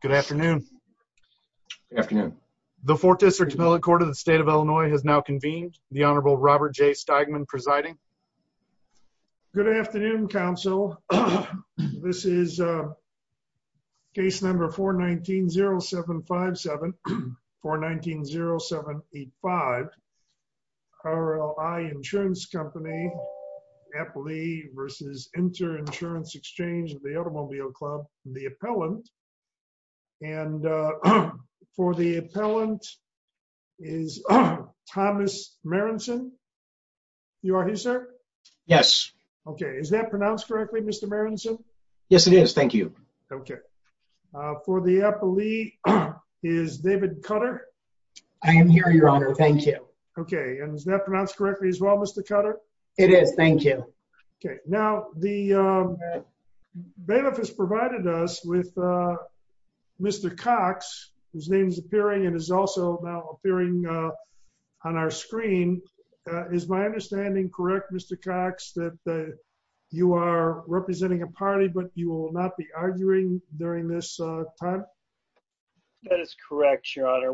Good afternoon. Good afternoon. The Fort Dixert Appellate Court of the State of Illinois has now convened. The Honorable Robert J. Steigman presiding. Good afternoon counsel. This is case number 419-0757, 419-0785. RLI Insurance Company, RLI versus Interinsurance Exchange of the Automobile Club. The appellant, and for the appellant is Thomas Marinson. You are here, sir? Yes. Okay. Is that pronounced correctly, Mr. Marinson? Yes, it is. Thank you. Okay. For the appellee is David Cutter. I am here, Your Honor. Thank you. Okay. And is that pronounced correctly as well, Mr. Cutter? It is. Thank you. Okay. Now, the bailiff has provided us with Mr. Cox, whose name is appearing and is also now appearing on our screen. Is my understanding correct, Mr. Cox, that you are representing a party but you will not be arguing during this time? That is correct, Your Honor.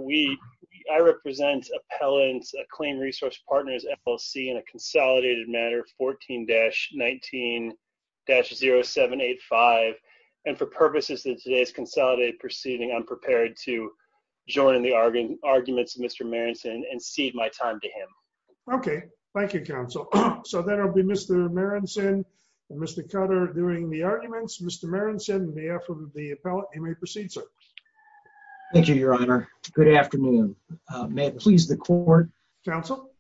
I represent Appellant's Claim Resource Partners, FLC, in a consolidated matter, 14-19-0785, and for purposes of today's consolidated proceeding, I'm prepared to join in the arguments of Mr. Marinson and cede my time to him. Okay. Thank you, counsel. So that'll be Mr. Marinson and Mr. Cutter doing the arguments. Mr. Marinson, on behalf of the appellant, you may proceed, sir. Thank you, Your Honor. Good afternoon. May it please the court. Counsel?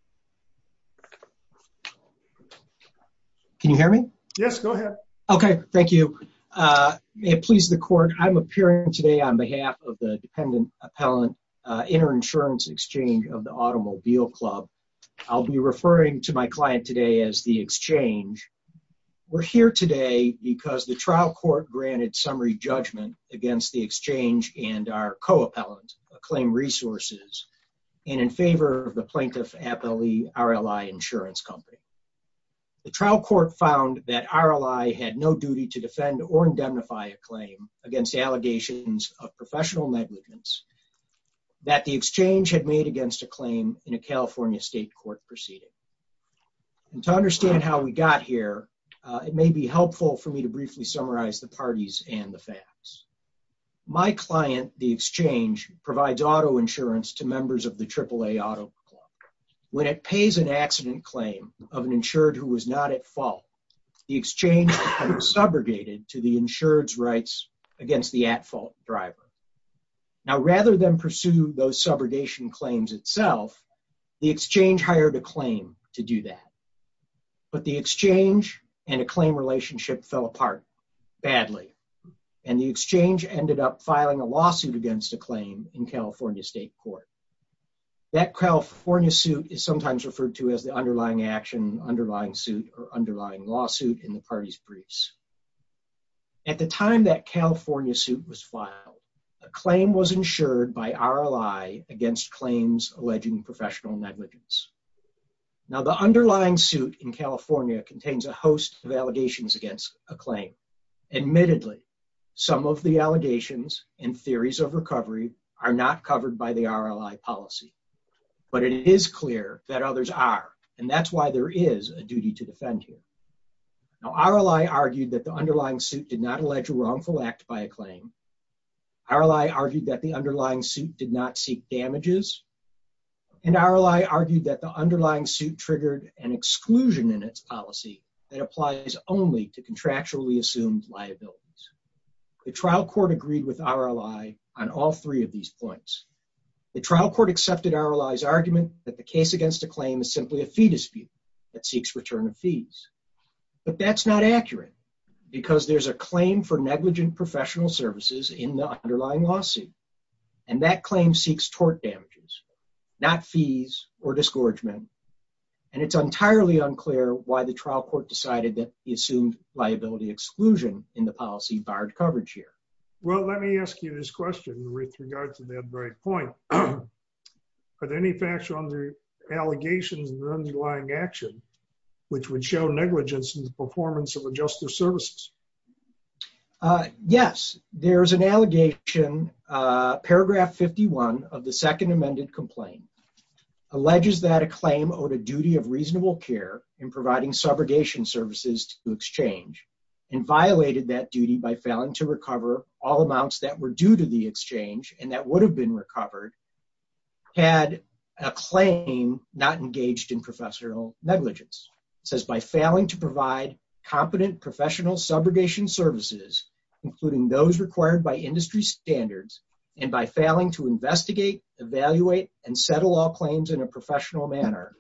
Can you hear me? Yes, go ahead. Okay. Thank you. May it please the court, I'm appearing today on behalf of the dependent appellant, Interinsurance Exchange of the Automobile Club. I'll be referring to my client today as the exchange. We're here today because the claim resources and in favor of the Plaintiff Appellee RLI Insurance Company. The trial court found that RLI had no duty to defend or indemnify a claim against allegations of professional negligence that the exchange had made against a claim in a California state court proceeding. And to understand how we got here, it may be helpful for me to briefly summarize the parties and the client, the exchange, provides auto insurance to members of the AAA Auto Club. When it pays an accident claim of an insured who was not at fault, the exchange subrogated to the insured's rights against the at-fault driver. Now, rather than pursue those subrogation claims itself, the exchange hired a claim to do that. But the exchange and a claim relationship fell apart badly and the lawsuit against a claim in California State Court. That California suit is sometimes referred to as the underlying action, underlying suit, or underlying lawsuit in the parties briefs. At the time that California suit was filed, a claim was insured by RLI against claims alleging professional negligence. Now, the underlying suit in California contains a host of allegations against a claim. Admittedly, some of the allegations and theories of recovery are not covered by the RLI policy. But it is clear that others are and that's why there is a duty to defend you. Now, RLI argued that the underlying suit did not allege a wrongful act by a claim. RLI argued that the underlying suit did not seek damages. And RLI argued that the underlying suit triggered an exclusion in its policy that applies only to contractually assumed liabilities. The trial court agreed with RLI on all three of these points. The trial court accepted RLI's argument that the case against a claim is simply a fee dispute that seeks return of fees. But that's not accurate because there's a claim for negligent professional services in the underlying lawsuit. And that claim seeks tort decided that he assumed liability exclusion in the policy barred coverage here. Well, let me ask you this question with regard to that very point. Are there any facts on the allegations in the underlying action which would show negligence in the performance of the justice services? Yes, there's an allegation, paragraph 51 of the second amended complaint, alleges that a claim owed a duty of reasonable care in providing subrogation services to exchange and violated that duty by failing to recover all amounts that were due to the exchange and that would have been recovered, had a claim not engaged in professional negligence. It says by failing to provide competent professional subrogation services, including those required by industry standards, and by failing to investigate, evaluate and settle all claims in a professional manner.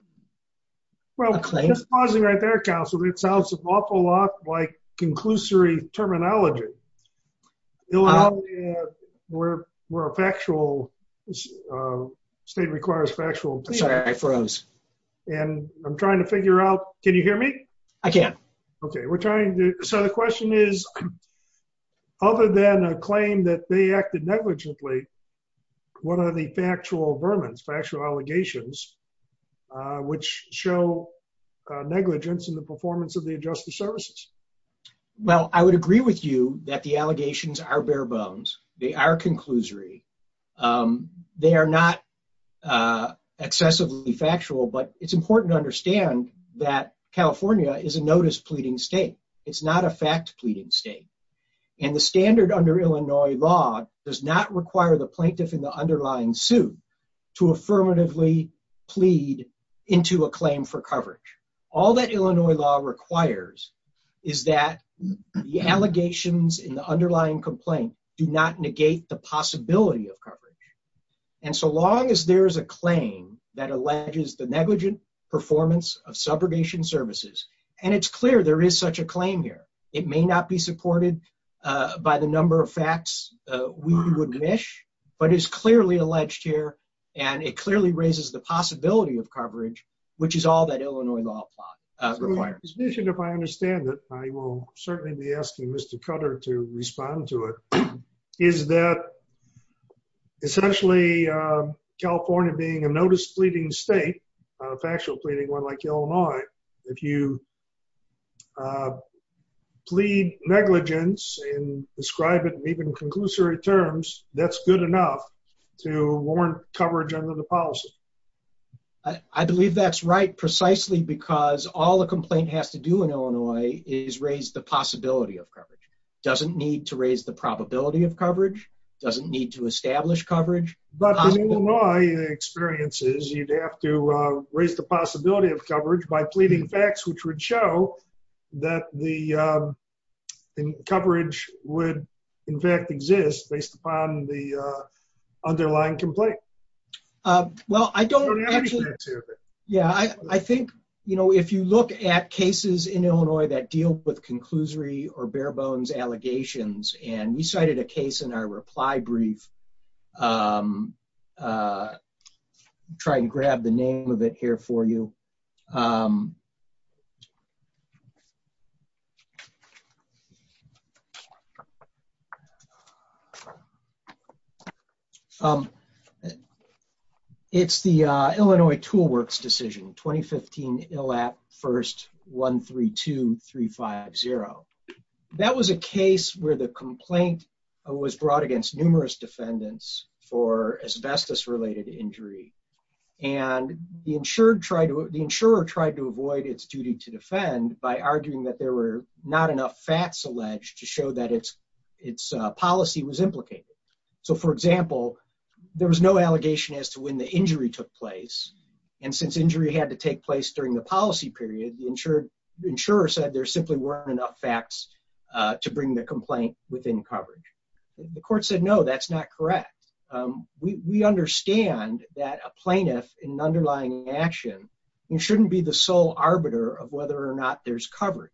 Well, just pausing right there, counsel, it sounds an awful lot like conclusory terminology. Where a factual state requires factual. Sorry, I froze. And I'm trying to figure out, can you hear me? I can. Okay, we're trying to, so the question is, other than a claim that they acted negligently, what are the factual vermin, factual allegations, which show negligence in the performance of the adjusted services? Well, I would agree with you that the allegations are bare-bones. They are conclusory. They are not excessively factual, but it's important to understand that California is a notice pleading state. It's not a fact pleading state. And the standard under Illinois law does not require the to affirmatively plead into a claim for coverage. All that Illinois law requires is that the allegations in the underlying complaint do not negate the possibility of coverage. And so long as there is a claim that alleges the negligent performance of subrogation services, and it's clear there is such a claim here, it may not be supported by the number of facts we would wish, but it is clearly alleged here, and it clearly raises the possibility of coverage, which is all that Illinois law requires. Mr. Bishop, if I understand it, I will certainly be asking Mr. Cutler to respond to it, is that essentially, California being a notice pleading state, a factual pleading one like Illinois, if you plead negligence and describe it in even conclusory terms, that's good enough to warrant coverage under the policy? I believe that's right, precisely because all the complaint has to do in Illinois is raise the possibility of coverage. It doesn't need to raise the probability of coverage, it doesn't need to establish coverage... But in Illinois experiences, you'd have to raise the possibility of coverage by pleading facts which would show that the coverage would, in fact, exist based upon the underlying complaint. Well, I don't actually... Yeah, I think if you look at cases in Illinois that deal with conclusory or bare bones allegations, and we cited a case in our reply brief, try and grab the name of it here for you, please. It's the Illinois Tool Works Decision, 2015 ILAP 1st 132350. That was a case where the complaint was brought against numerous defendants for asbestos related injury, and the insured tried to... The insurer tried to defend by arguing that there were not enough facts alleged to show that its policy was implicated. So for example, there was no allegation as to when the injury took place, and since injury had to take place during the policy period, the insurer said there simply weren't enough facts to bring the complaint within coverage. The court said, no, that's not correct. We understand that a plaintiff in an underlying action shouldn't be the sole arbiter of whether or not there's coverage.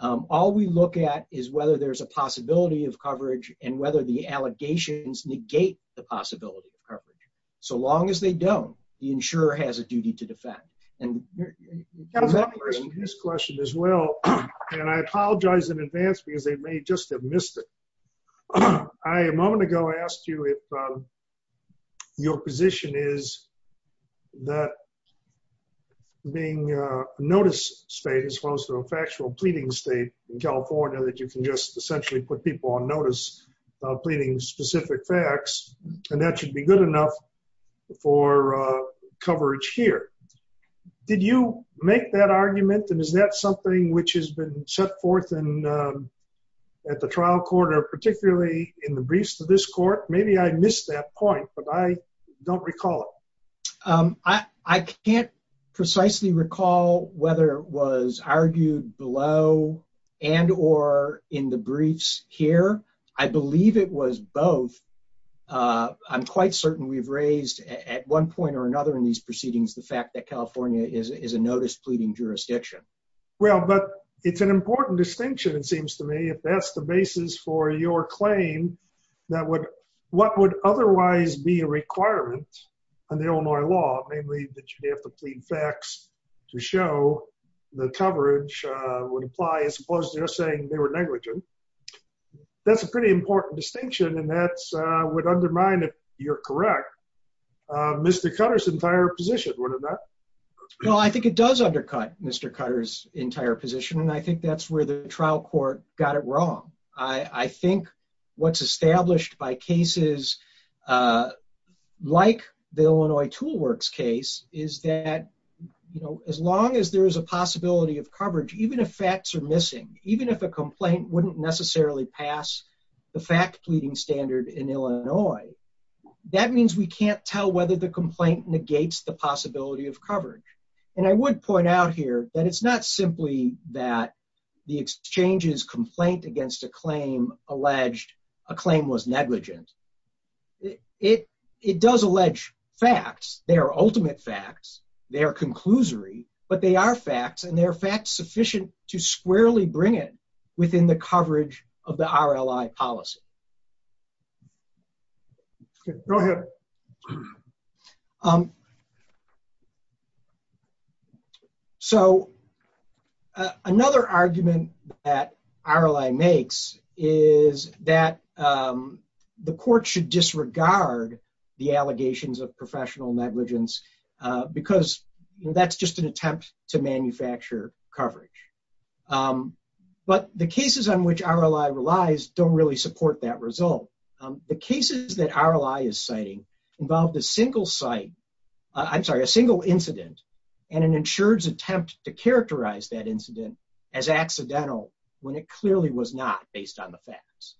All we look at is whether there's a possibility of coverage and whether the allegations negate the possibility of coverage. So long as they don't, the insurer has a duty to defend. And... I was wondering this question as well, and I apologize in advance because they may just have missed it. I, a moment ago, asked you if your position is that being a notice state as well as a factual pleading state in California, that you can just essentially put people on notice about pleading specific facts, and that should be good enough for coverage here. Did you make that argument? And is that something which has been set forth at the trial court or particularly in the briefs of this court? Maybe I missed that point, but I don't recall it. I can't precisely recall whether it was argued below and or in the briefs here. I believe it was both. I'm quite certain we've raised at one point or another in these proceedings the fact that California is a notice pleading jurisdiction. Well, but it's an important distinction, it seems to me, if that's the basis for your claim, that would... What would otherwise be a requirement in the Illinois law, namely that you have to plead facts to show the coverage would apply as opposed to just saying they were negligent. That's a pretty important distinction and that would undermine, if you're correct, Mr. Cutter's entire position, wouldn't it? No, I think it does undercut Mr. Cutter's entire position, and I think that's where the trial court got it wrong. I think what's established by cases like the Illinois Tool Works case is that as long as there is a possibility of coverage, even if facts are missing, even if a complaint wouldn't necessarily pass the fact pleading standard in Illinois, that means we can't tell whether the complaint negates the possibility of coverage. And I would point out here that it's not simply that the exchange's complaint against a claim alleged a claim was negligent. It does allege facts, they are ultimate facts, they are conclusory, but they are facts and they are facts sufficient to squarely bring it within the coverage of the RLI policy. Go ahead. Sure. So another argument that RLI makes is that the court should disregard the allegations of professional negligence because that's just an attempt to manufacture coverage. But the cases on which RLI relies don't really support that result. The cases that RLI is citing involved a single site... I'm sorry, a single incident and an insured's attempt to characterize that incident as accidental when it clearly was not based on the facts.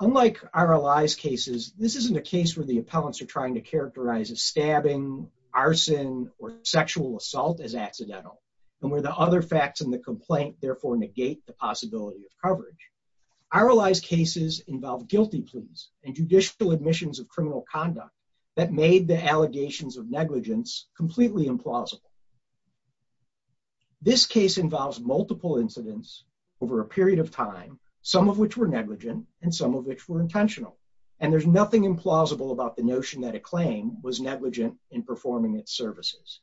Unlike RLI's cases, this isn't a case where the appellants are trying to characterize a stabbing, arson, or sexual assault as accidental, and where the other facts in the complaint therefore negate the possibility of coverage. RLI's cases involve guilty pleas and judicial admissions of criminal conduct that made the allegations of negligence completely implausible. This case involves multiple incidents over a period of time, some of which were negligent and some of which were intentional. And there's nothing implausible about the notion that a claim was negligent in performing its services.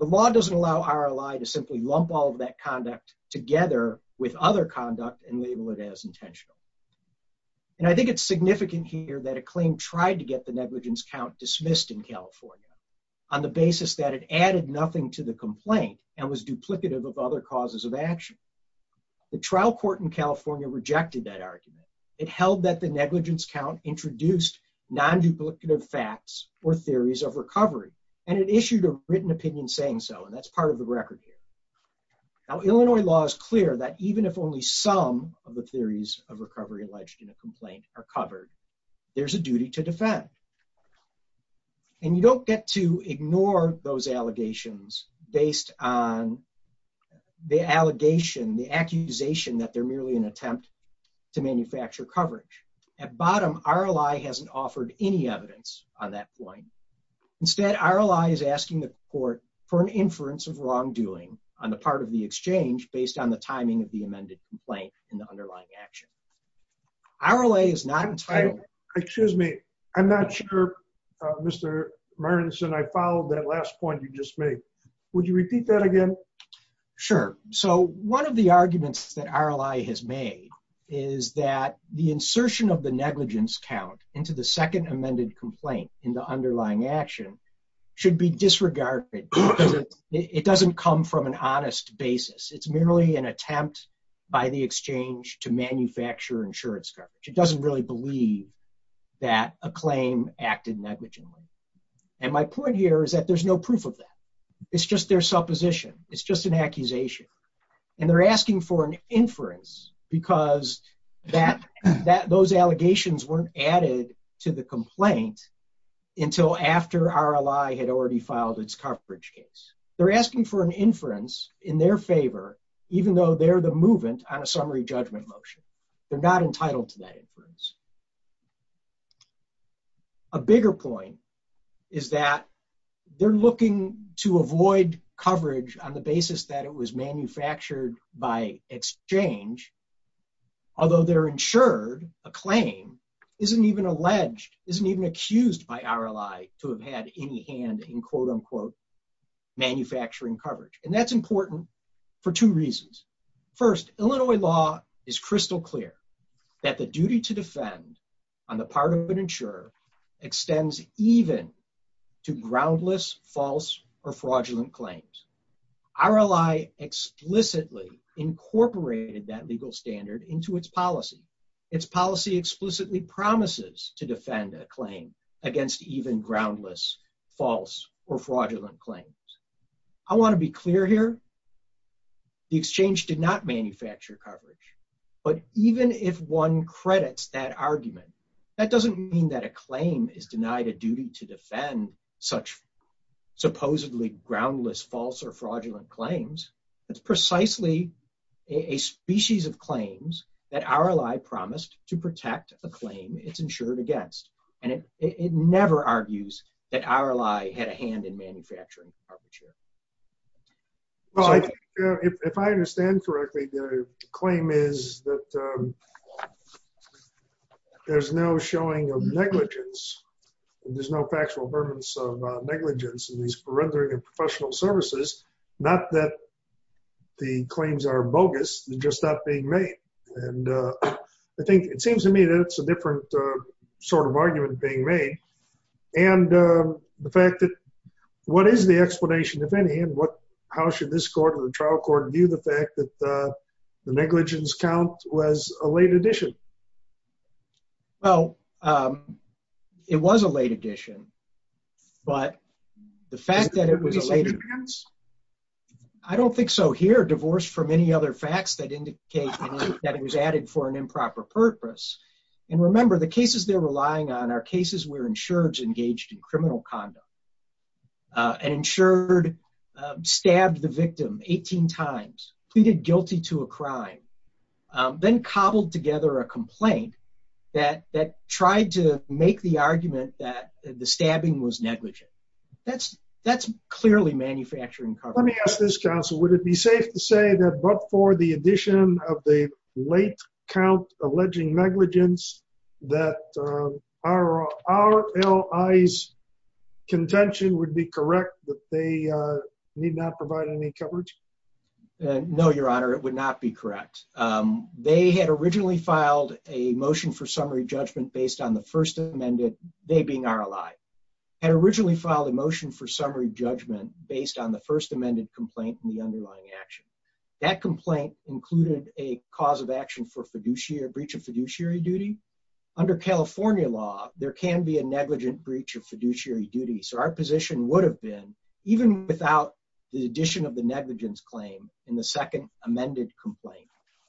The law doesn't allow RLI to simply lump all of that conduct together with other conduct and label it as intentional. And I think it's significant here that a claim tried to get the negligence count dismissed in California on the basis that it added nothing to the complaint and was duplicative of other causes of action. The trial court in California rejected that argument. It held that the negligence count introduced non duplicative facts or theories of recovery, and it issued a written opinion saying so. And that's part of the record here. Now, Illinois law is clear that even if only some of the theories of recovery alleged in a complaint are covered, there's a duty to defend. And you don't get to ignore those allegations based on the allegation, the accusation that they're merely an attempt to manufacture coverage. At bottom, RLI hasn't offered any evidence on that point. Instead, RLI is asking the court for an inference of wrongdoing on the part of the exchange based on the timing of the amended complaint and the underlying action. RLA is not entitled, excuse me, I'm not sure, Mr. Mearns, and I followed that last point you just made. Would you repeat that again? Sure. So one of the arguments that RLI has made is that the insertion of the negligence count into the second amended complaint in the underlying action should be disregarded. It doesn't come from an honest basis. It's merely an attempt by the exchange to manufacture insurance coverage. It doesn't really believe that a claim acted negligently. And my point here is that there's no proof of that. It's just their supposition. It's just an accusation. And they're asking for an inference because those allegations weren't added to the complaint until after RLI had already filed its coverage case. They're asking for an inference in their favor, even though they're the movement on a summary judgment motion. They're not entitled to that inference. A bigger point is that they're looking to avoid coverage on the basis that it was exchange, although they're insured, a claim isn't even alleged, isn't even accused by RLI to have had any hand in quote unquote, manufacturing coverage. And that's important for two reasons. First, Illinois law is crystal clear that the duty to defend on the part of an insurer extends even to groundless false or fraudulent claims. RLI explicitly incorporated that legal standard into its policy. Its policy explicitly promises to defend a claim against even groundless, false or fraudulent claims. I want to be clear here. The exchange did not manufacture coverage. But even if one credits that supposedly groundless, false or fraudulent claims, it's precisely a species of claims that RLI promised to protect the claim it's insured against. And it never argues that RLI had a hand in manufacturing. Well, if I understand correctly, the claim is that there's no showing of negligence in these rendering of professional services, not that the claims are bogus, they're just not being made. And I think it seems to me that it's a different sort of argument being made. And the fact that what is the explanation, if any, and what, how should this court or the trial court view the fact that the negligence count was a late addition? Well, it was a late addition. But the fact that it was a late addition, I don't think so here. Divorce from any other facts that indicate that it was added for an improper purpose. And remember, the cases they're relying on are cases where insureds engaged in criminal conduct. An insured stabbed the victim 18 times, pleaded guilty to a crime, then cobbled together a complaint that that tried to make the argument that the stabbing was negligent. That's, that's clearly manufacturing cover. Let me ask this counsel, would it be safe to say that but for the addition of the late count alleging negligence, that our our allies contention would be correct that they need not provide any coverage? No, Your Honor, it would not be correct. They had originally filed a motion for summary judgment based on the first amended, they being our ally, had originally filed a motion for summary judgment based on the first amended complaint in the underlying action. That complaint included a cause of action for fiduciary breach of fiduciary duty. Under California law, there can be a negligent breach of fiduciary duty. So our position would have been even without the addition of the negligence claim in the second amended complaint,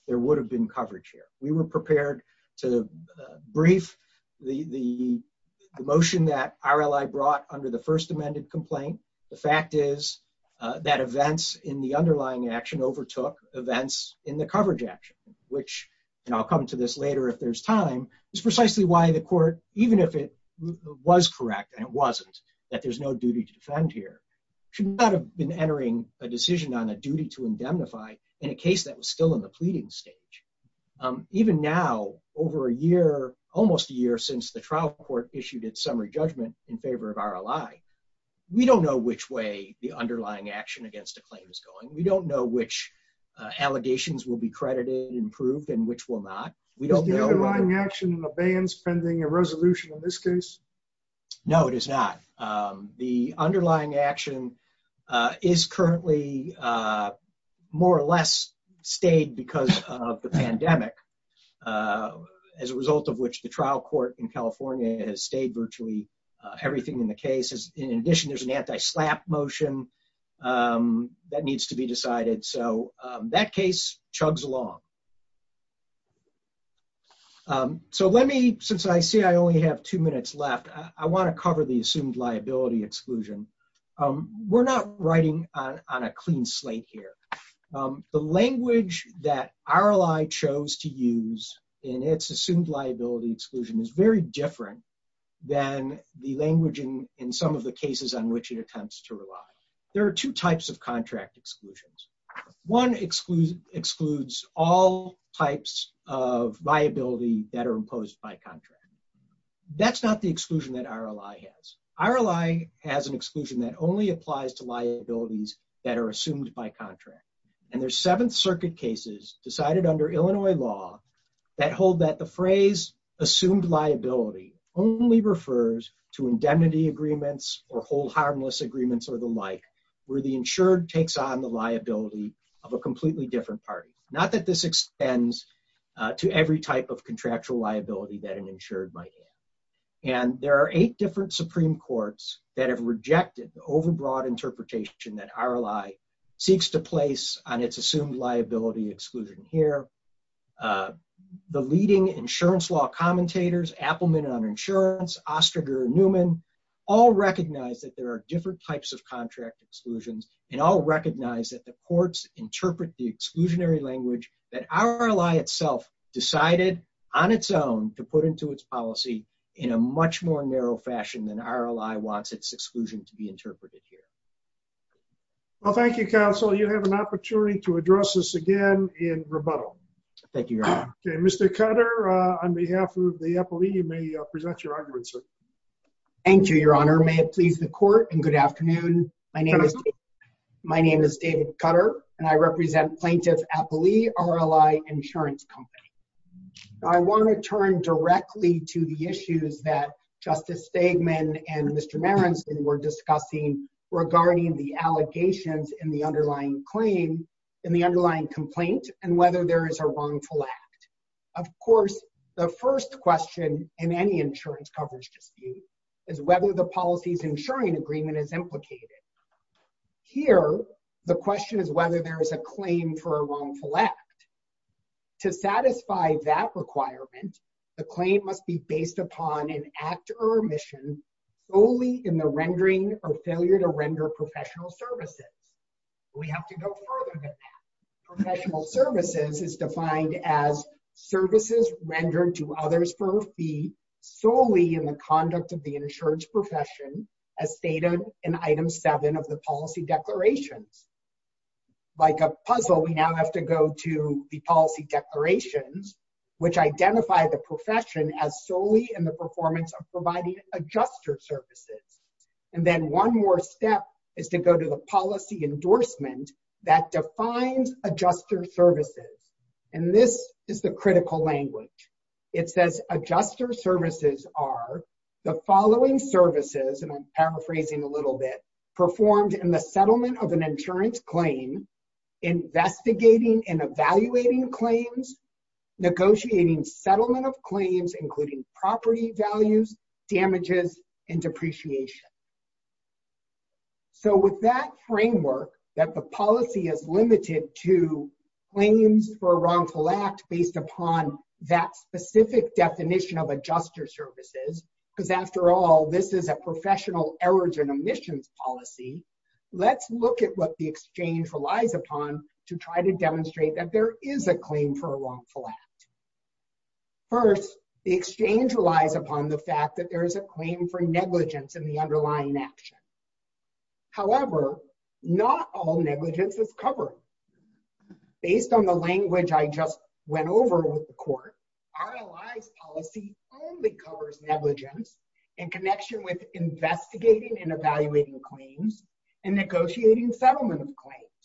there would have been coverage here. We were prepared to brief the motion that our ally brought under the first amended complaint. The fact is that events in the underlying action overtook events in the coverage action, which I'll come to this later if there's time is precisely why the court, even if it was correct, and it wasn't, that there's no duty to defend here, should not have been entering a decision on a duty to indemnify in a case that was still in the pleading stage. Even now, over a year, almost a year since the trial court issued its summary judgment in favor of our ally, we don't know which way the underlying action against the claim is going. We don't know which allegations will be credited and improved and which will not. We don't know the underlying action and the bans pending a resolution in this case. No, it is not. The underlying action is currently more or less stayed because of the pandemic as a result of which the trial court in California has stayed virtually everything in the case. In addition, there's an anti-slap motion that needs to be decided, so that case chugs along. So let me, since I see I only have two minutes left, I want to cover the assumed liability exclusion. We're not writing on a clean slate here. The language that our ally chose to use in its assumed liability exclusion is very different than the language in some of the exclusions. One excludes all types of liability that are imposed by contract. That's not the exclusion that our ally has. Our ally has an exclusion that only applies to liabilities that are assumed by contract. And there's seventh circuit cases decided under Illinois law that hold that the phrase assumed liability only refers to indemnity agreements or hold harmless agreements or the like where the insured takes on the liability of a completely different party. Not that this extends to every type of contractual liability that an insured might have. And there are eight different Supreme Courts that have rejected the overbroad interpretation that our ally seeks to place on its assumed liability exclusion here. The leading insurance law commentators Appelman on insurance, Osterger and Newman all recognize that there are different types of contract exclusions and all recognize that the courts interpret the exclusionary language that our ally itself decided on its own to put into its policy in a much more narrow fashion than our ally wants its exclusion to be interpreted here. Well thank you counsel you have an opportunity to address this again in rebuttal. Thank you. Okay Mr. Cutter on behalf of the Good afternoon. My name is David Cutter and I represent plaintiff Appelee RLI insurance company. I want to turn directly to the issues that Justice Stegman and Mr. Marenson were discussing regarding the allegations in the underlying claim in the underlying complaint and whether there is a wrongful act. Of course the first question in any insurance coverage dispute is whether the policy's insuring agreement is implicated. Here the question is whether there is a claim for a wrongful act. To satisfy that requirement the claim must be based upon an act or omission solely in the rendering or failure to render professional services. We have to go further than that. Professional services is defined as services rendered to others for a fee solely in the conduct of the insurance profession as stated in item seven of the policy declarations. Like a puzzle we now have to go to the policy declarations which identify the profession as solely in the performance of providing adjusted services. And then one more step is to go to the policy endorsement that defines adjusted services. And this is the critical language. It says adjuster services are the following services and I'm paraphrasing a little bit performed in the settlement of an insurance claim investigating and evaluating claims, negotiating settlement of claims including property values, damages, and depreciation. So with that framework that the policy is limited to claims for a wrongful act based upon that specific definition of adjuster services, because after all this is a professional errors and omissions policy, let's look at what the exchange relies upon to try to demonstrate that there is a claim for a wrongful act. First the exchange relies upon the fact that there is a claim for negligence in the underlying action. However, not all negligence is covered. Based on the language I just went over with the court, RLI's policy only covers negligence in connection with investigating and evaluating claims and negotiating settlement of claims.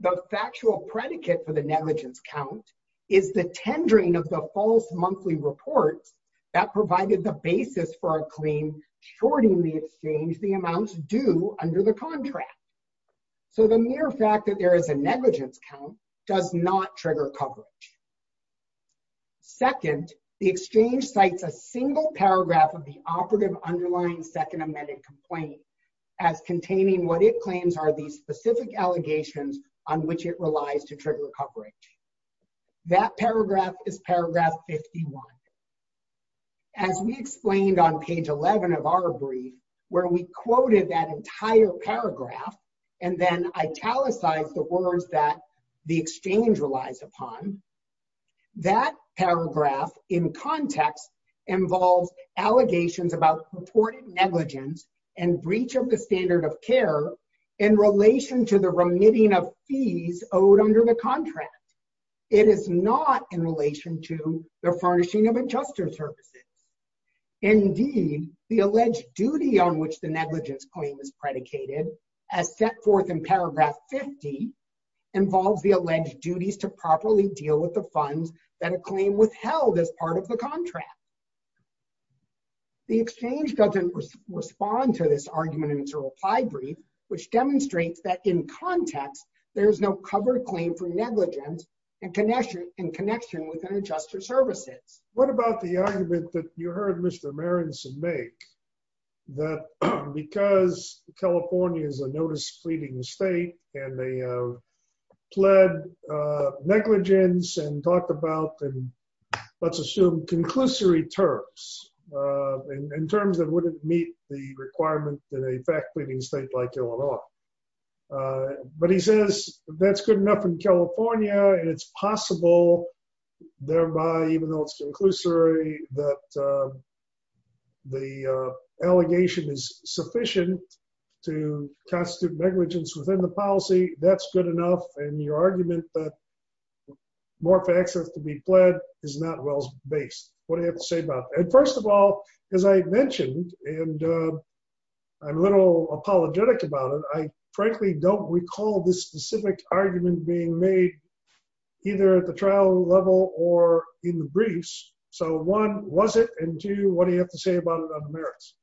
The factual predicate for the negligence count is the tendering of the false monthly reports that provided the basis for our claim shorting the exchange the amounts due under the contract. So the mere fact that there is a negligence count does not trigger coverage. Second, the exchange cites a single paragraph of the operative underlying second amended complaint as containing what it claims are these specific allegations on which it relies to trigger coverage. That paragraph is paragraph 51. As we explained on page 11 of our brief, where we quoted that entire paragraph, and then italicized the words that the exchange relies upon, that paragraph in context involves allegations about purported negligence and breach of the standard of care in relation to the in relation to the furnishing of adjuster services. Indeed, the alleged duty on which the negligence claim is predicated, as set forth in paragraph 50, involves the alleged duties to properly deal with the funds that a claim withheld as part of the contract. The exchange doesn't respond to this argument in its reply brief, which demonstrates that in context there is no covered claim for negligence in connection in connection with an adjuster services. What about the argument that you heard Mr. Marinson make that because California is a notice pleading state and they pled negligence and talked about and let's assume conclusory terms in terms that wouldn't meet the enough in California and it's possible thereby even though it's conclusory that the allegation is sufficient to constitute negligence within the policy that's good enough and your argument that more facts have to be pled is not well-based. What do you have to say about that? First of all, as I mentioned and I'm apologetic about it, I frankly don't recall this specific argument being made either at the trial level or in the briefs. So one, was it? And two, what do you have to say about it on the merits?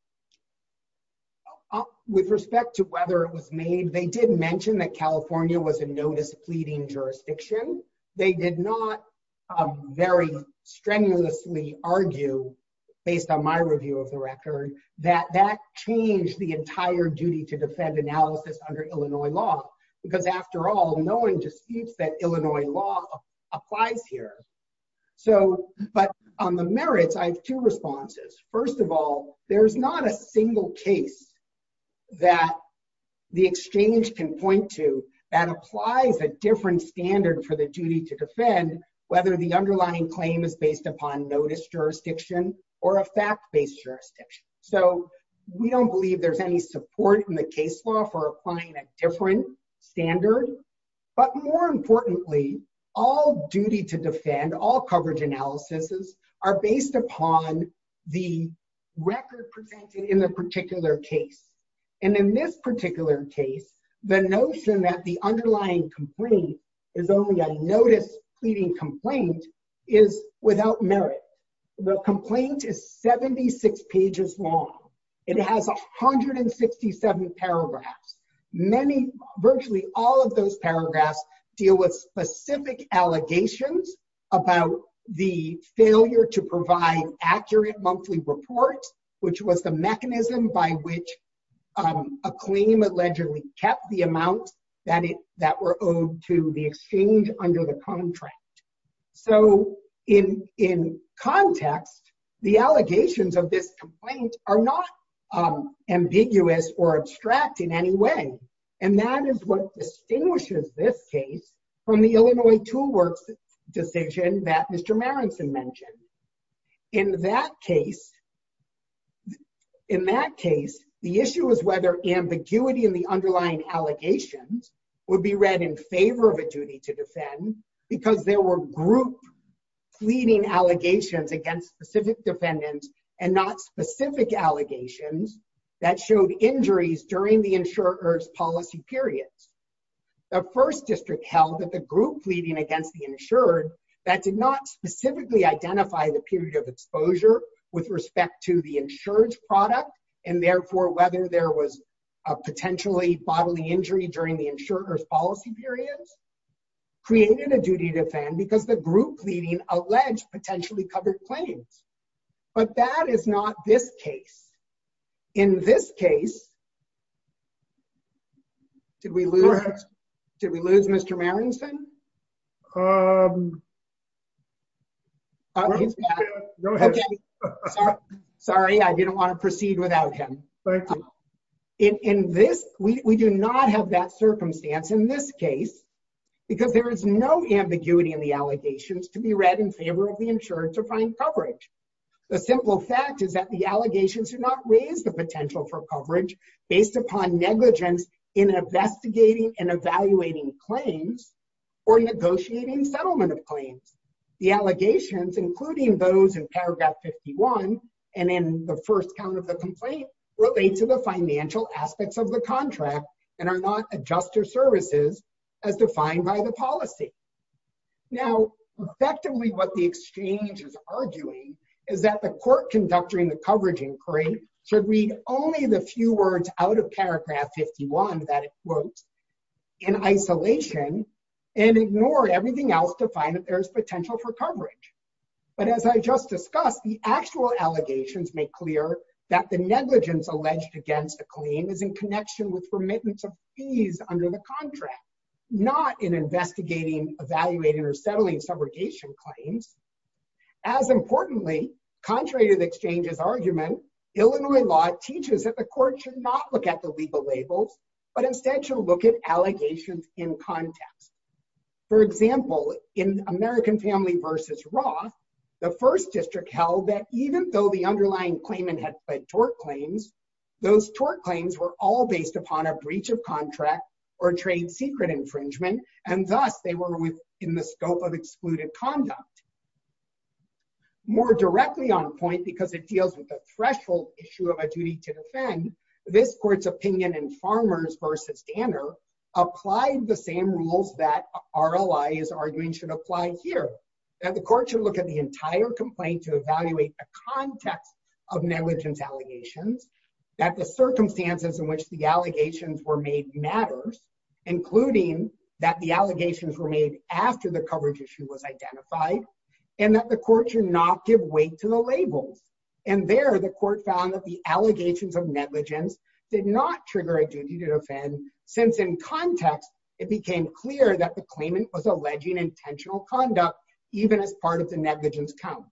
With respect to whether it was made, they did mention that California was a notice pleading jurisdiction. They did not very strenuously argue based on my review of the record that that changed the entire duty to defend analysis under Illinois law because after all no one disputes that Illinois law applies here. So but on the merits I have two responses. First of all, there's not a single case that the exchange can point to that applies a different standard for the duty to defend whether the underlying claim is based upon notice jurisdiction or a fact-based jurisdiction. So we don't believe there's any support in the case law for applying a different standard. But more importantly, all duty to defend, all coverage analysis, are based upon the record presented in the particular case. And in this particular case, the notion that the underlying complaint is only a notice pleading complaint is without merit. The complaint is 76 pages long. It has 167 paragraphs. Many, virtually all of those paragraphs deal with specific allegations about the failure to provide accurate monthly reports, which was the mechanism by which a claim allegedly kept the amount that it that were owed to the exchange under the contract. So in in context, the allegations of this complaint are not ambiguous or abstract in any way. And that is what distinguishes this case from the Illinois tool works decision that Mr. Marenson mentioned. In that case, in that case, the underlying allegations would be read in favor of a duty to defend because there were group pleading allegations against specific defendants and not specific allegations that showed injuries during the insurers policy periods. The first district held that the group pleading against the insured that did not specifically identify the period of exposure with respect to the insured product, and therefore whether there was a potentially bodily injury during the insurers policy periods created a duty to defend because the group pleading alleged potentially covered claims. But that is not this case. In this case, did we lose? Did we lose Mr. Marenson? Sorry, I didn't want to proceed without him. In this we do not have that circumstance in this case, because there is no ambiguity in the allegations to be read in favor of the insured to find coverage. The simple fact is that the allegations do not raise the potential for coverage based upon negligence in investigating and evaluating claims, or negotiating settlement of claims. The allegations including those in paragraph 51 and in the first count of the complaint relate to the financial aspects of the contract and are not adjuster services as defined by the policy. Now, effectively, what the exchange is arguing is that the court conducting the coverage inquiry should read only the few words out of paragraph 51 that quote, in isolation, and ignore everything else to find that there's potential for coverage. But as I just discussed, the actual allegations make clear that the negligence alleged against the claim is in connection with remittance of fees under the contract, not in investigating, evaluating or settling subrogation claims. As teaches that the court should not look at the legal labels, but instead should look at allegations in context. For example, in American family versus Roth, the first district held that even though the underlying claimant had tort claims, those tort claims were all based upon a breach of contract, or trade secret infringement, and thus they were within the scope of excluded conduct. More directly on point because it deals with the threshold issue of a duty to defend this court's opinion and farmers versus Danner applied the same rules that our allies are doing should apply here, that the court should look at the entire complaint to evaluate the context of negligence allegations, that the circumstances in which the allegations were made matters, including that the and that the court should not give weight to the labels. And there the court found that the allegations of negligence did not trigger a duty to defend since in context, it became clear that the claimant was alleging intentional conduct, even as part of the negligence count.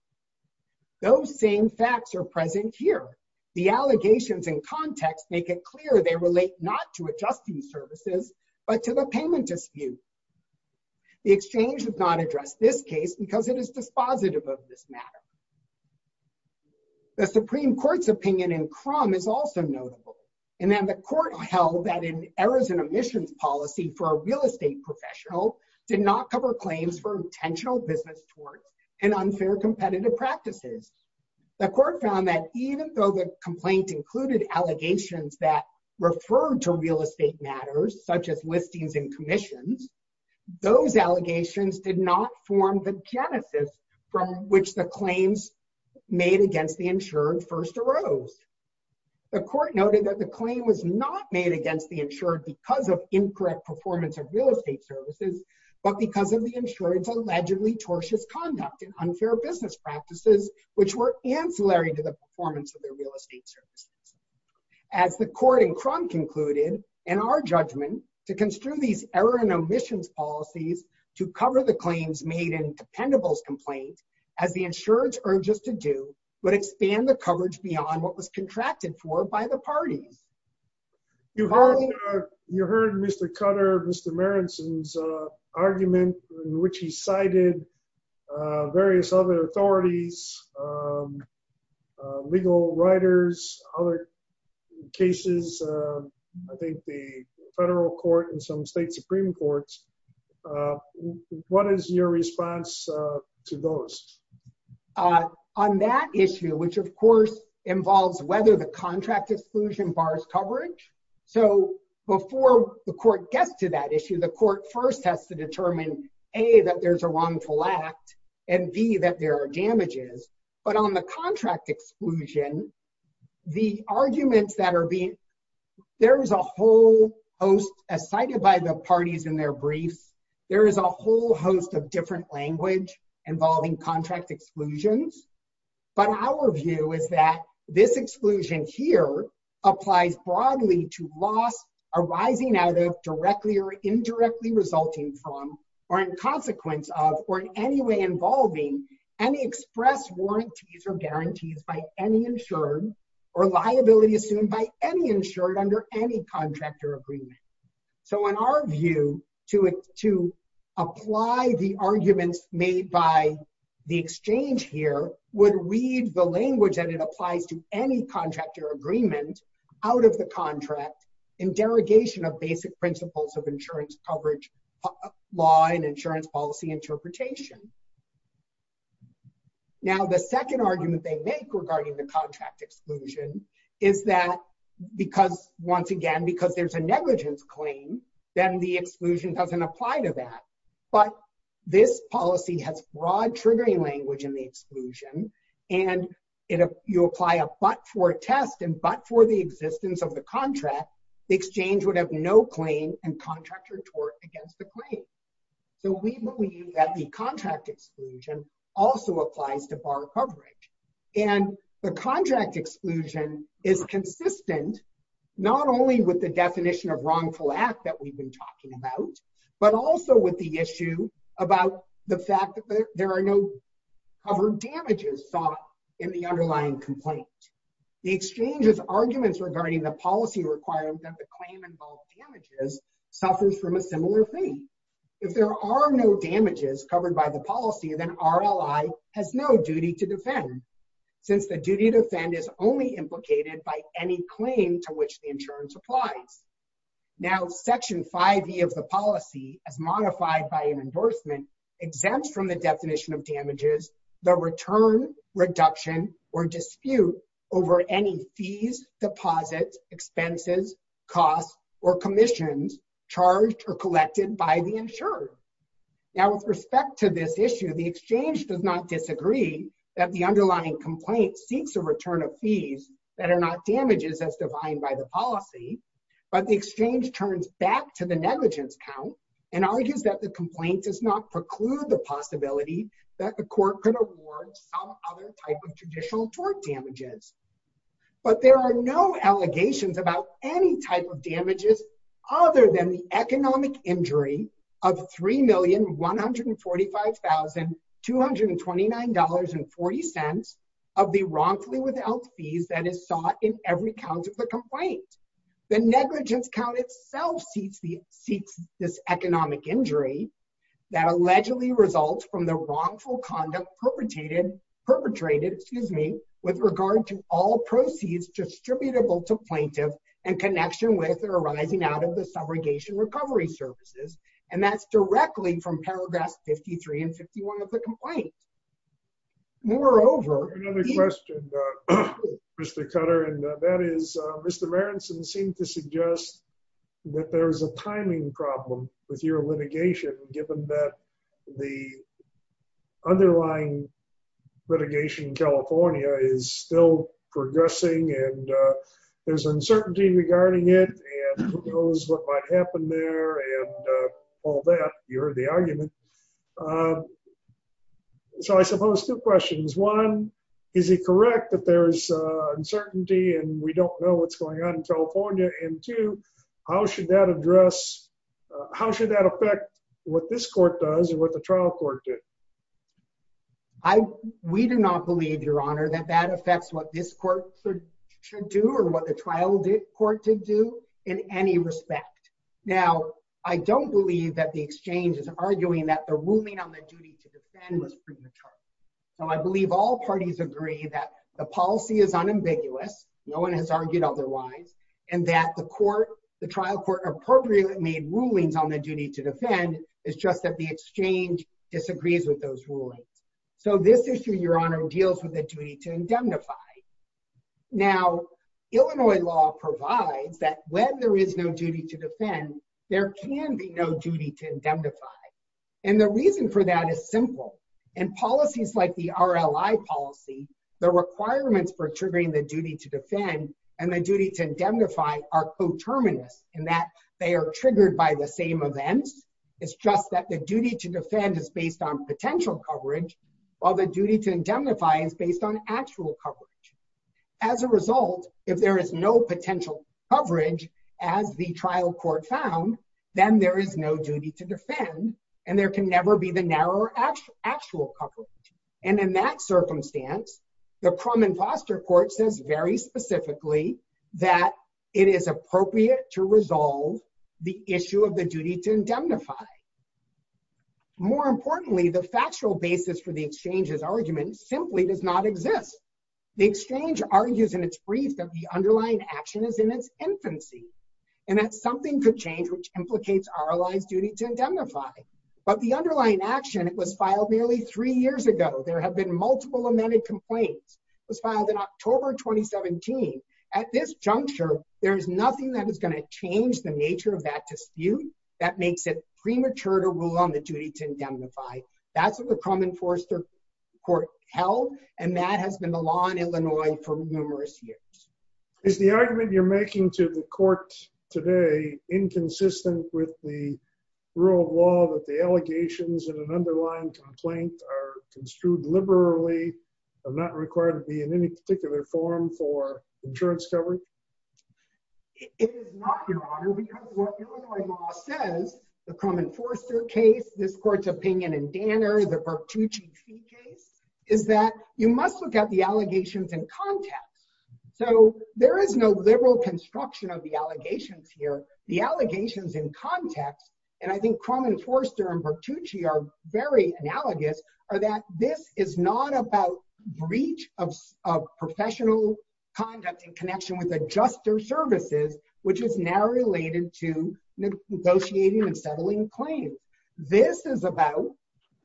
Those same facts are present here. The allegations in context make it clear they relate not to adjusting services, but to the payment dispute. The exchange does not address this case because it is dispositive of this matter. The Supreme Court's opinion in crumb is also notable. And then the court held that in errors and omissions policy for a real estate professional did not cover claims for intentional business towards an unfair competitive practices. The court found that even though the complaint included allegations that refer to real estate matters such as listings and commissions, those allegations did not form the genesis from which the claims made against the insured first arose. The court noted that the claim was not made against the insured because of incorrect performance of real estate services, but because of the insurance allegedly tortious conduct and unfair business practices, which were ancillary to the performance of their real estate services. As the court in crumb concluded, and our judgment to construe these error and omissions policies to cover the claims made in dependables complaint, as the insurance urges to do, would expand the coverage beyond what was contracted for by the parties. You heard, you heard Mr. Cutter, Mr. Marenson's argument, which he cited various other authorities, legal writers, other cases, I think the federal court and some state supreme courts. What is your response to those? On that issue, which of course, involves whether the contract exclusion bars coverage. So before the court gets to that issue, the court first has to determine A, that there's a wrongful act, and B, that there are damages. But on the contract exclusion, the arguments that are being, there is a whole host as cited by the parties in their briefs, there is a whole host of different language involving contract exclusions. But our view is that this exclusion here applies broadly to loss arising out of directly or indirectly resulting from or in consequence of or in any way involving any express warranties or guarantees by any insured, or liability assumed by any insured under any contractor agreement. So in our view, to apply the arguments made by the exchange here would read the language that it applies to any contractor agreement out of the contract, in derogation of basic principles of insurance coverage, law and insurance policy interpretation. Now, the second argument they make regarding the contract exclusion, is that because once again, because there's a negligence claim, then the exclusion doesn't apply to that. But this policy has broad triggering language in the exclusion. And if you apply a but for test and but for the existence of the contract, the exchange would have no claim and contractor tort against the claim. So we believe that the contract exclusion also applies to bar coverage. And the contract exclusion is consistent, not only with the definition of wrongful act that we've been talking about, but also with the issue about the fact that there are no covered damages thought in the underlying complaint. The exchanges arguments regarding the policy requirement that the claim involved damages suffers from a similar thing. If there are no damages covered by the Since the duty to offend is only implicated by any claim to which the insurance applies. Now section five v of the policy as modified by an endorsement exempts from the definition of damages, the return reduction or dispute over any fees, deposits, expenses, costs, or commissions charged or collected by the insurer. Now with respect to this issue, the exchange does not disagree that the underlying complaint seeks a return of fees that are not damages as defined by the policy. But the exchange turns back to the negligence count and argues that the complaint does not preclude the possibility that the court could award some other type of traditional tort damages. But there are no allegations about any type of damages, other than the economic injury of $3,145,229.40 of the wrongfully without fees that is sought in every count of the complaint. The negligence count itself seeks the seeks this economic injury that allegedly results from the wrongful conduct perpetrated, perpetrated, excuse me, with regard to all proceeds distributable to plaintiff and connection with or arising out of the abrogation recovery services. And that's directly from paragraphs 53 and 51 of the complaint. Moreover, Mr. Cutter, and that is Mr. Rarenson seemed to suggest that there's a timing problem with your litigation, given that the underlying litigation in California is still progressing, and there's uncertainty regarding it, and who knows what might happen there and all that, you're the argument. So I suppose two questions. One, is it correct that there's uncertainty and we don't know what's going on in California? And two, how should that address? How should that affect what this court does and what the trial court did? I, we do not believe, Your Honor, that that affects what this court should do or what the trial court did do in any respect. Now, I don't believe that the exchange is arguing that the ruling on the duty to defend was premature. So I believe all parties agree that the policy is unambiguous, no one has argued otherwise, and that the court, the trial court appropriately made rulings on the duty to defend is just that the exchange disagrees with those rulings. So this issue, Your Honor, deals with the duty to indemnify. Now, Illinois law provides that when there is no duty to defend, there can be no duty to indemnify. And the reason for that is simple. And policies like the R. L. I. Policy, the requirements for triggering the duty to defend and the duty to indemnify are coterminous in that they are triggered by the same events. It's just that the duty to defend is based on potential coverage, while the duty to indemnify is based on actual coverage. As a result, if there is no potential coverage, as the trial court found, then there is no duty to defend, and there can never be the narrow actual coverage. And in that circumstance, the Crum and Foster Court says very specifically that it is appropriate to resolve the issue of the duty to indemnify. More importantly, the exchange's argument simply does not exist. The exchange argues in its brief that the underlying action is in its infancy, and that something could change which implicates R. L. I.'s duty to indemnify. But the underlying action was filed nearly three years ago. There have been multiple amended complaints. It was filed in October 2017. At this juncture, there is nothing that is going to change the nature of that dispute that makes it premature to rule on the duty to court held, and that has been the law in Illinois for numerous years. Is the argument you're making to the court today inconsistent with the rule of law that the allegations in an underlying complaint are construed liberally, are not required to be in any particular form for insurance coverage? It is not, Your Honor, because what Illinois law says, the Crum and Foster case, this case, is that you must look at the allegations in context. So there is no liberal construction of the allegations here. The allegations in context, and I think Crum and Foster and Bertucci are very analogous, are that this is not about breach of professional conduct in connection with adjuster services, which is now related to negotiating and settling claims. This is about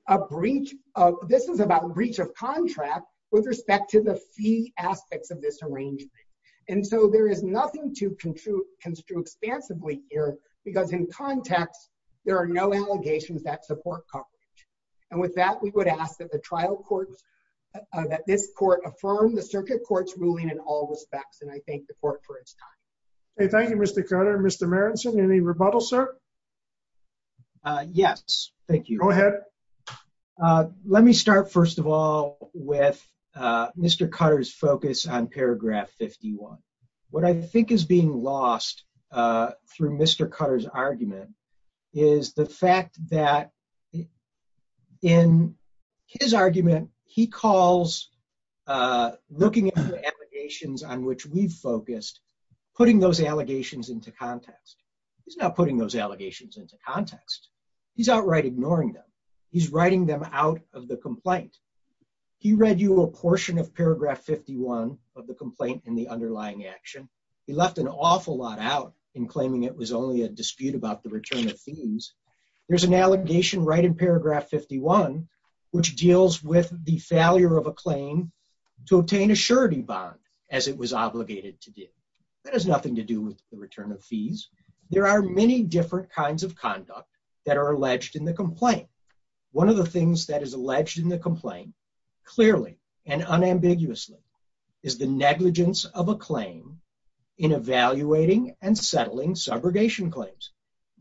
a breach of, this is about breach of contract with respect to the fee aspects of this arrangement. And so there is nothing to construe expansively here, because in context, there are no allegations that support coverage. And with that, we would ask that the trial courts, that this court affirm the circuit court's ruling in all respects, and I thank the court for its time. Thank you, Mr. Let me start, first of all, with Mr. Cutter's focus on paragraph 51. What I think is being lost through Mr. Cutter's argument is the fact that in his argument, he calls looking at the allegations on which we've focused, putting those allegations into context. He's not putting those allegations into the context of the complaint. He read you a portion of paragraph 51 of the complaint in the underlying action. He left an awful lot out in claiming it was only a dispute about the return of fees. There's an allegation right in paragraph 51, which deals with the failure of a claim to obtain a surety bond, as it was obligated to do. That has nothing to do with the return of fees. There are many different kinds of conduct that are alleged in the complaint. One of the things that is alleged in the complaint, clearly and unambiguously, is the negligence of a claim in evaluating and settling subrogation claims.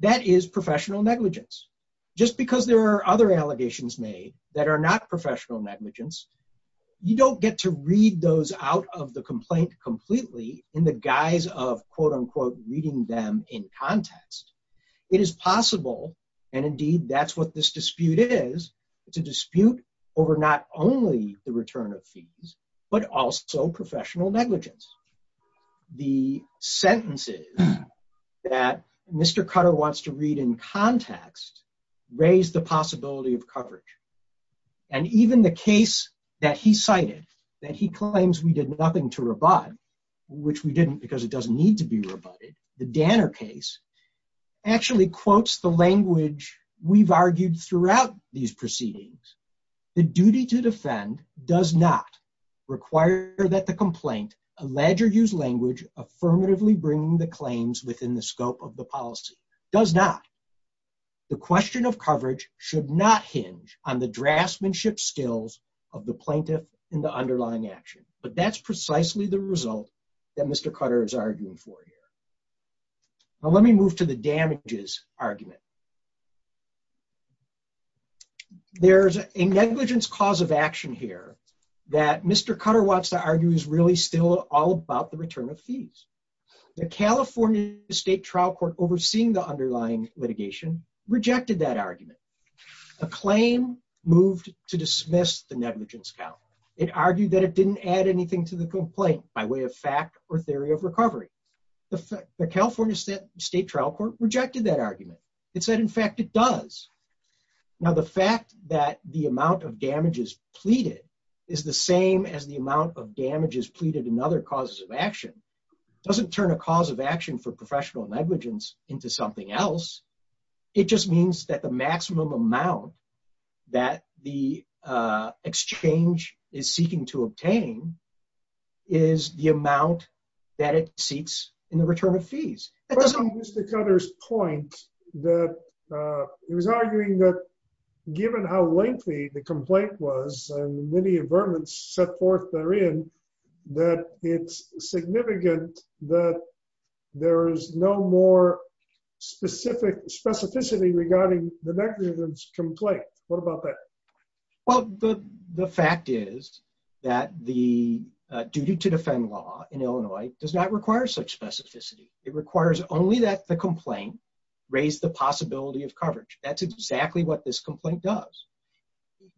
That is professional negligence. Just because there are other allegations made that are not professional negligence, you don't get to read those out of the complaint completely in the guise of, quote unquote, reading them in context. It is possible, and indeed that's what this dispute is, it's a dispute over not only the return of fees, but also professional negligence. The sentences that Mr. Cutter wants to read in context, raise the possibility of coverage. And even the case that he cited, that he claims we did nothing to rebut, which we actually quotes the language we've argued throughout these proceedings. The duty to defend does not require that the complaint allege or use language affirmatively bringing the claims within the scope of the policy. Does not. The question of coverage should not hinge on the draftsmanship skills of the plaintiff in the underlying action. But that's precisely the result that Mr. Cutter wants to argue in the damages argument. There's a negligence cause of action here that Mr. Cutter wants to argue is really still all about the return of fees. The California State Trial Court overseeing the underlying litigation rejected that argument. The claim moved to dismiss the negligence count. It argued that it didn't add anything to the complaint by way of fact or theory of recovery. The California State Trial Court rejected that argument. It said in fact it does. Now the fact that the amount of damages pleaded is the same as the amount of damages pleaded and other causes of action doesn't turn a cause of action for professional negligence into something else. It just means that the maximum amount that the exchange is that it seeks in the return of fees. Mr. Cutter's point that he was arguing that given how lengthy the complaint was and many amendments set forth therein that it's significant that there is no more specific specificity regarding the negligence complaint. What about that? Well, the fact is that the duty to defend law in Illinois does not require such specificity. It requires only that the complaint raise the possibility of coverage. That's exactly what this complaint does.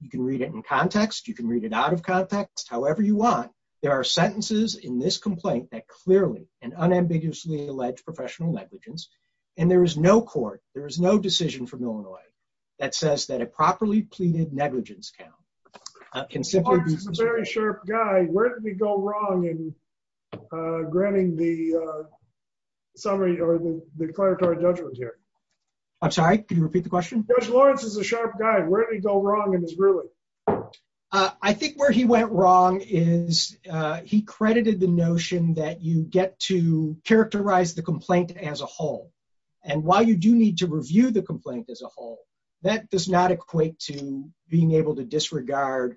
You can read it in context, you can read it out of context, however you want. There are sentences in this complaint that clearly and unambiguously allege professional negligence and there is no court, there is no decision from Illinois that says that a properly pleaded negligence count can simply be considered a very sharp guy. Where did we go wrong in granting the summary or the declaratory judgment here? I'm sorry, can you repeat the question? Judge Lawrence is a sharp guy. Where did he go wrong in his ruling? I think where he went wrong is he credited the notion that you get to characterize the complaint as a whole. And while you do need to review the complaint as a whole, that does not equate to being able to disregard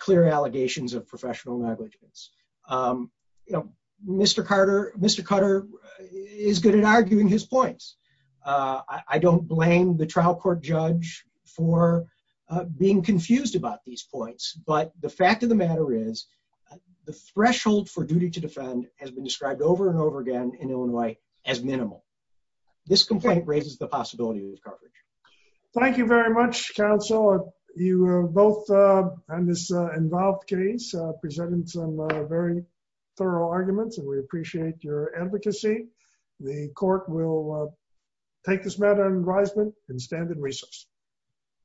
clear allegations of professional negligence. You know, Mr. Carter is good at arguing his points. I don't blame the trial court judge for being confused about these points, but the fact of the matter is the threshold for duty to defend has been described over and over again in Illinois as minimal. This complaint raises the possibility of discard. Thank you very much counsel. You both on this involved case presented some very thorough arguments and we appreciate your advocacy. The court will take this matter in advisement and stand in recess.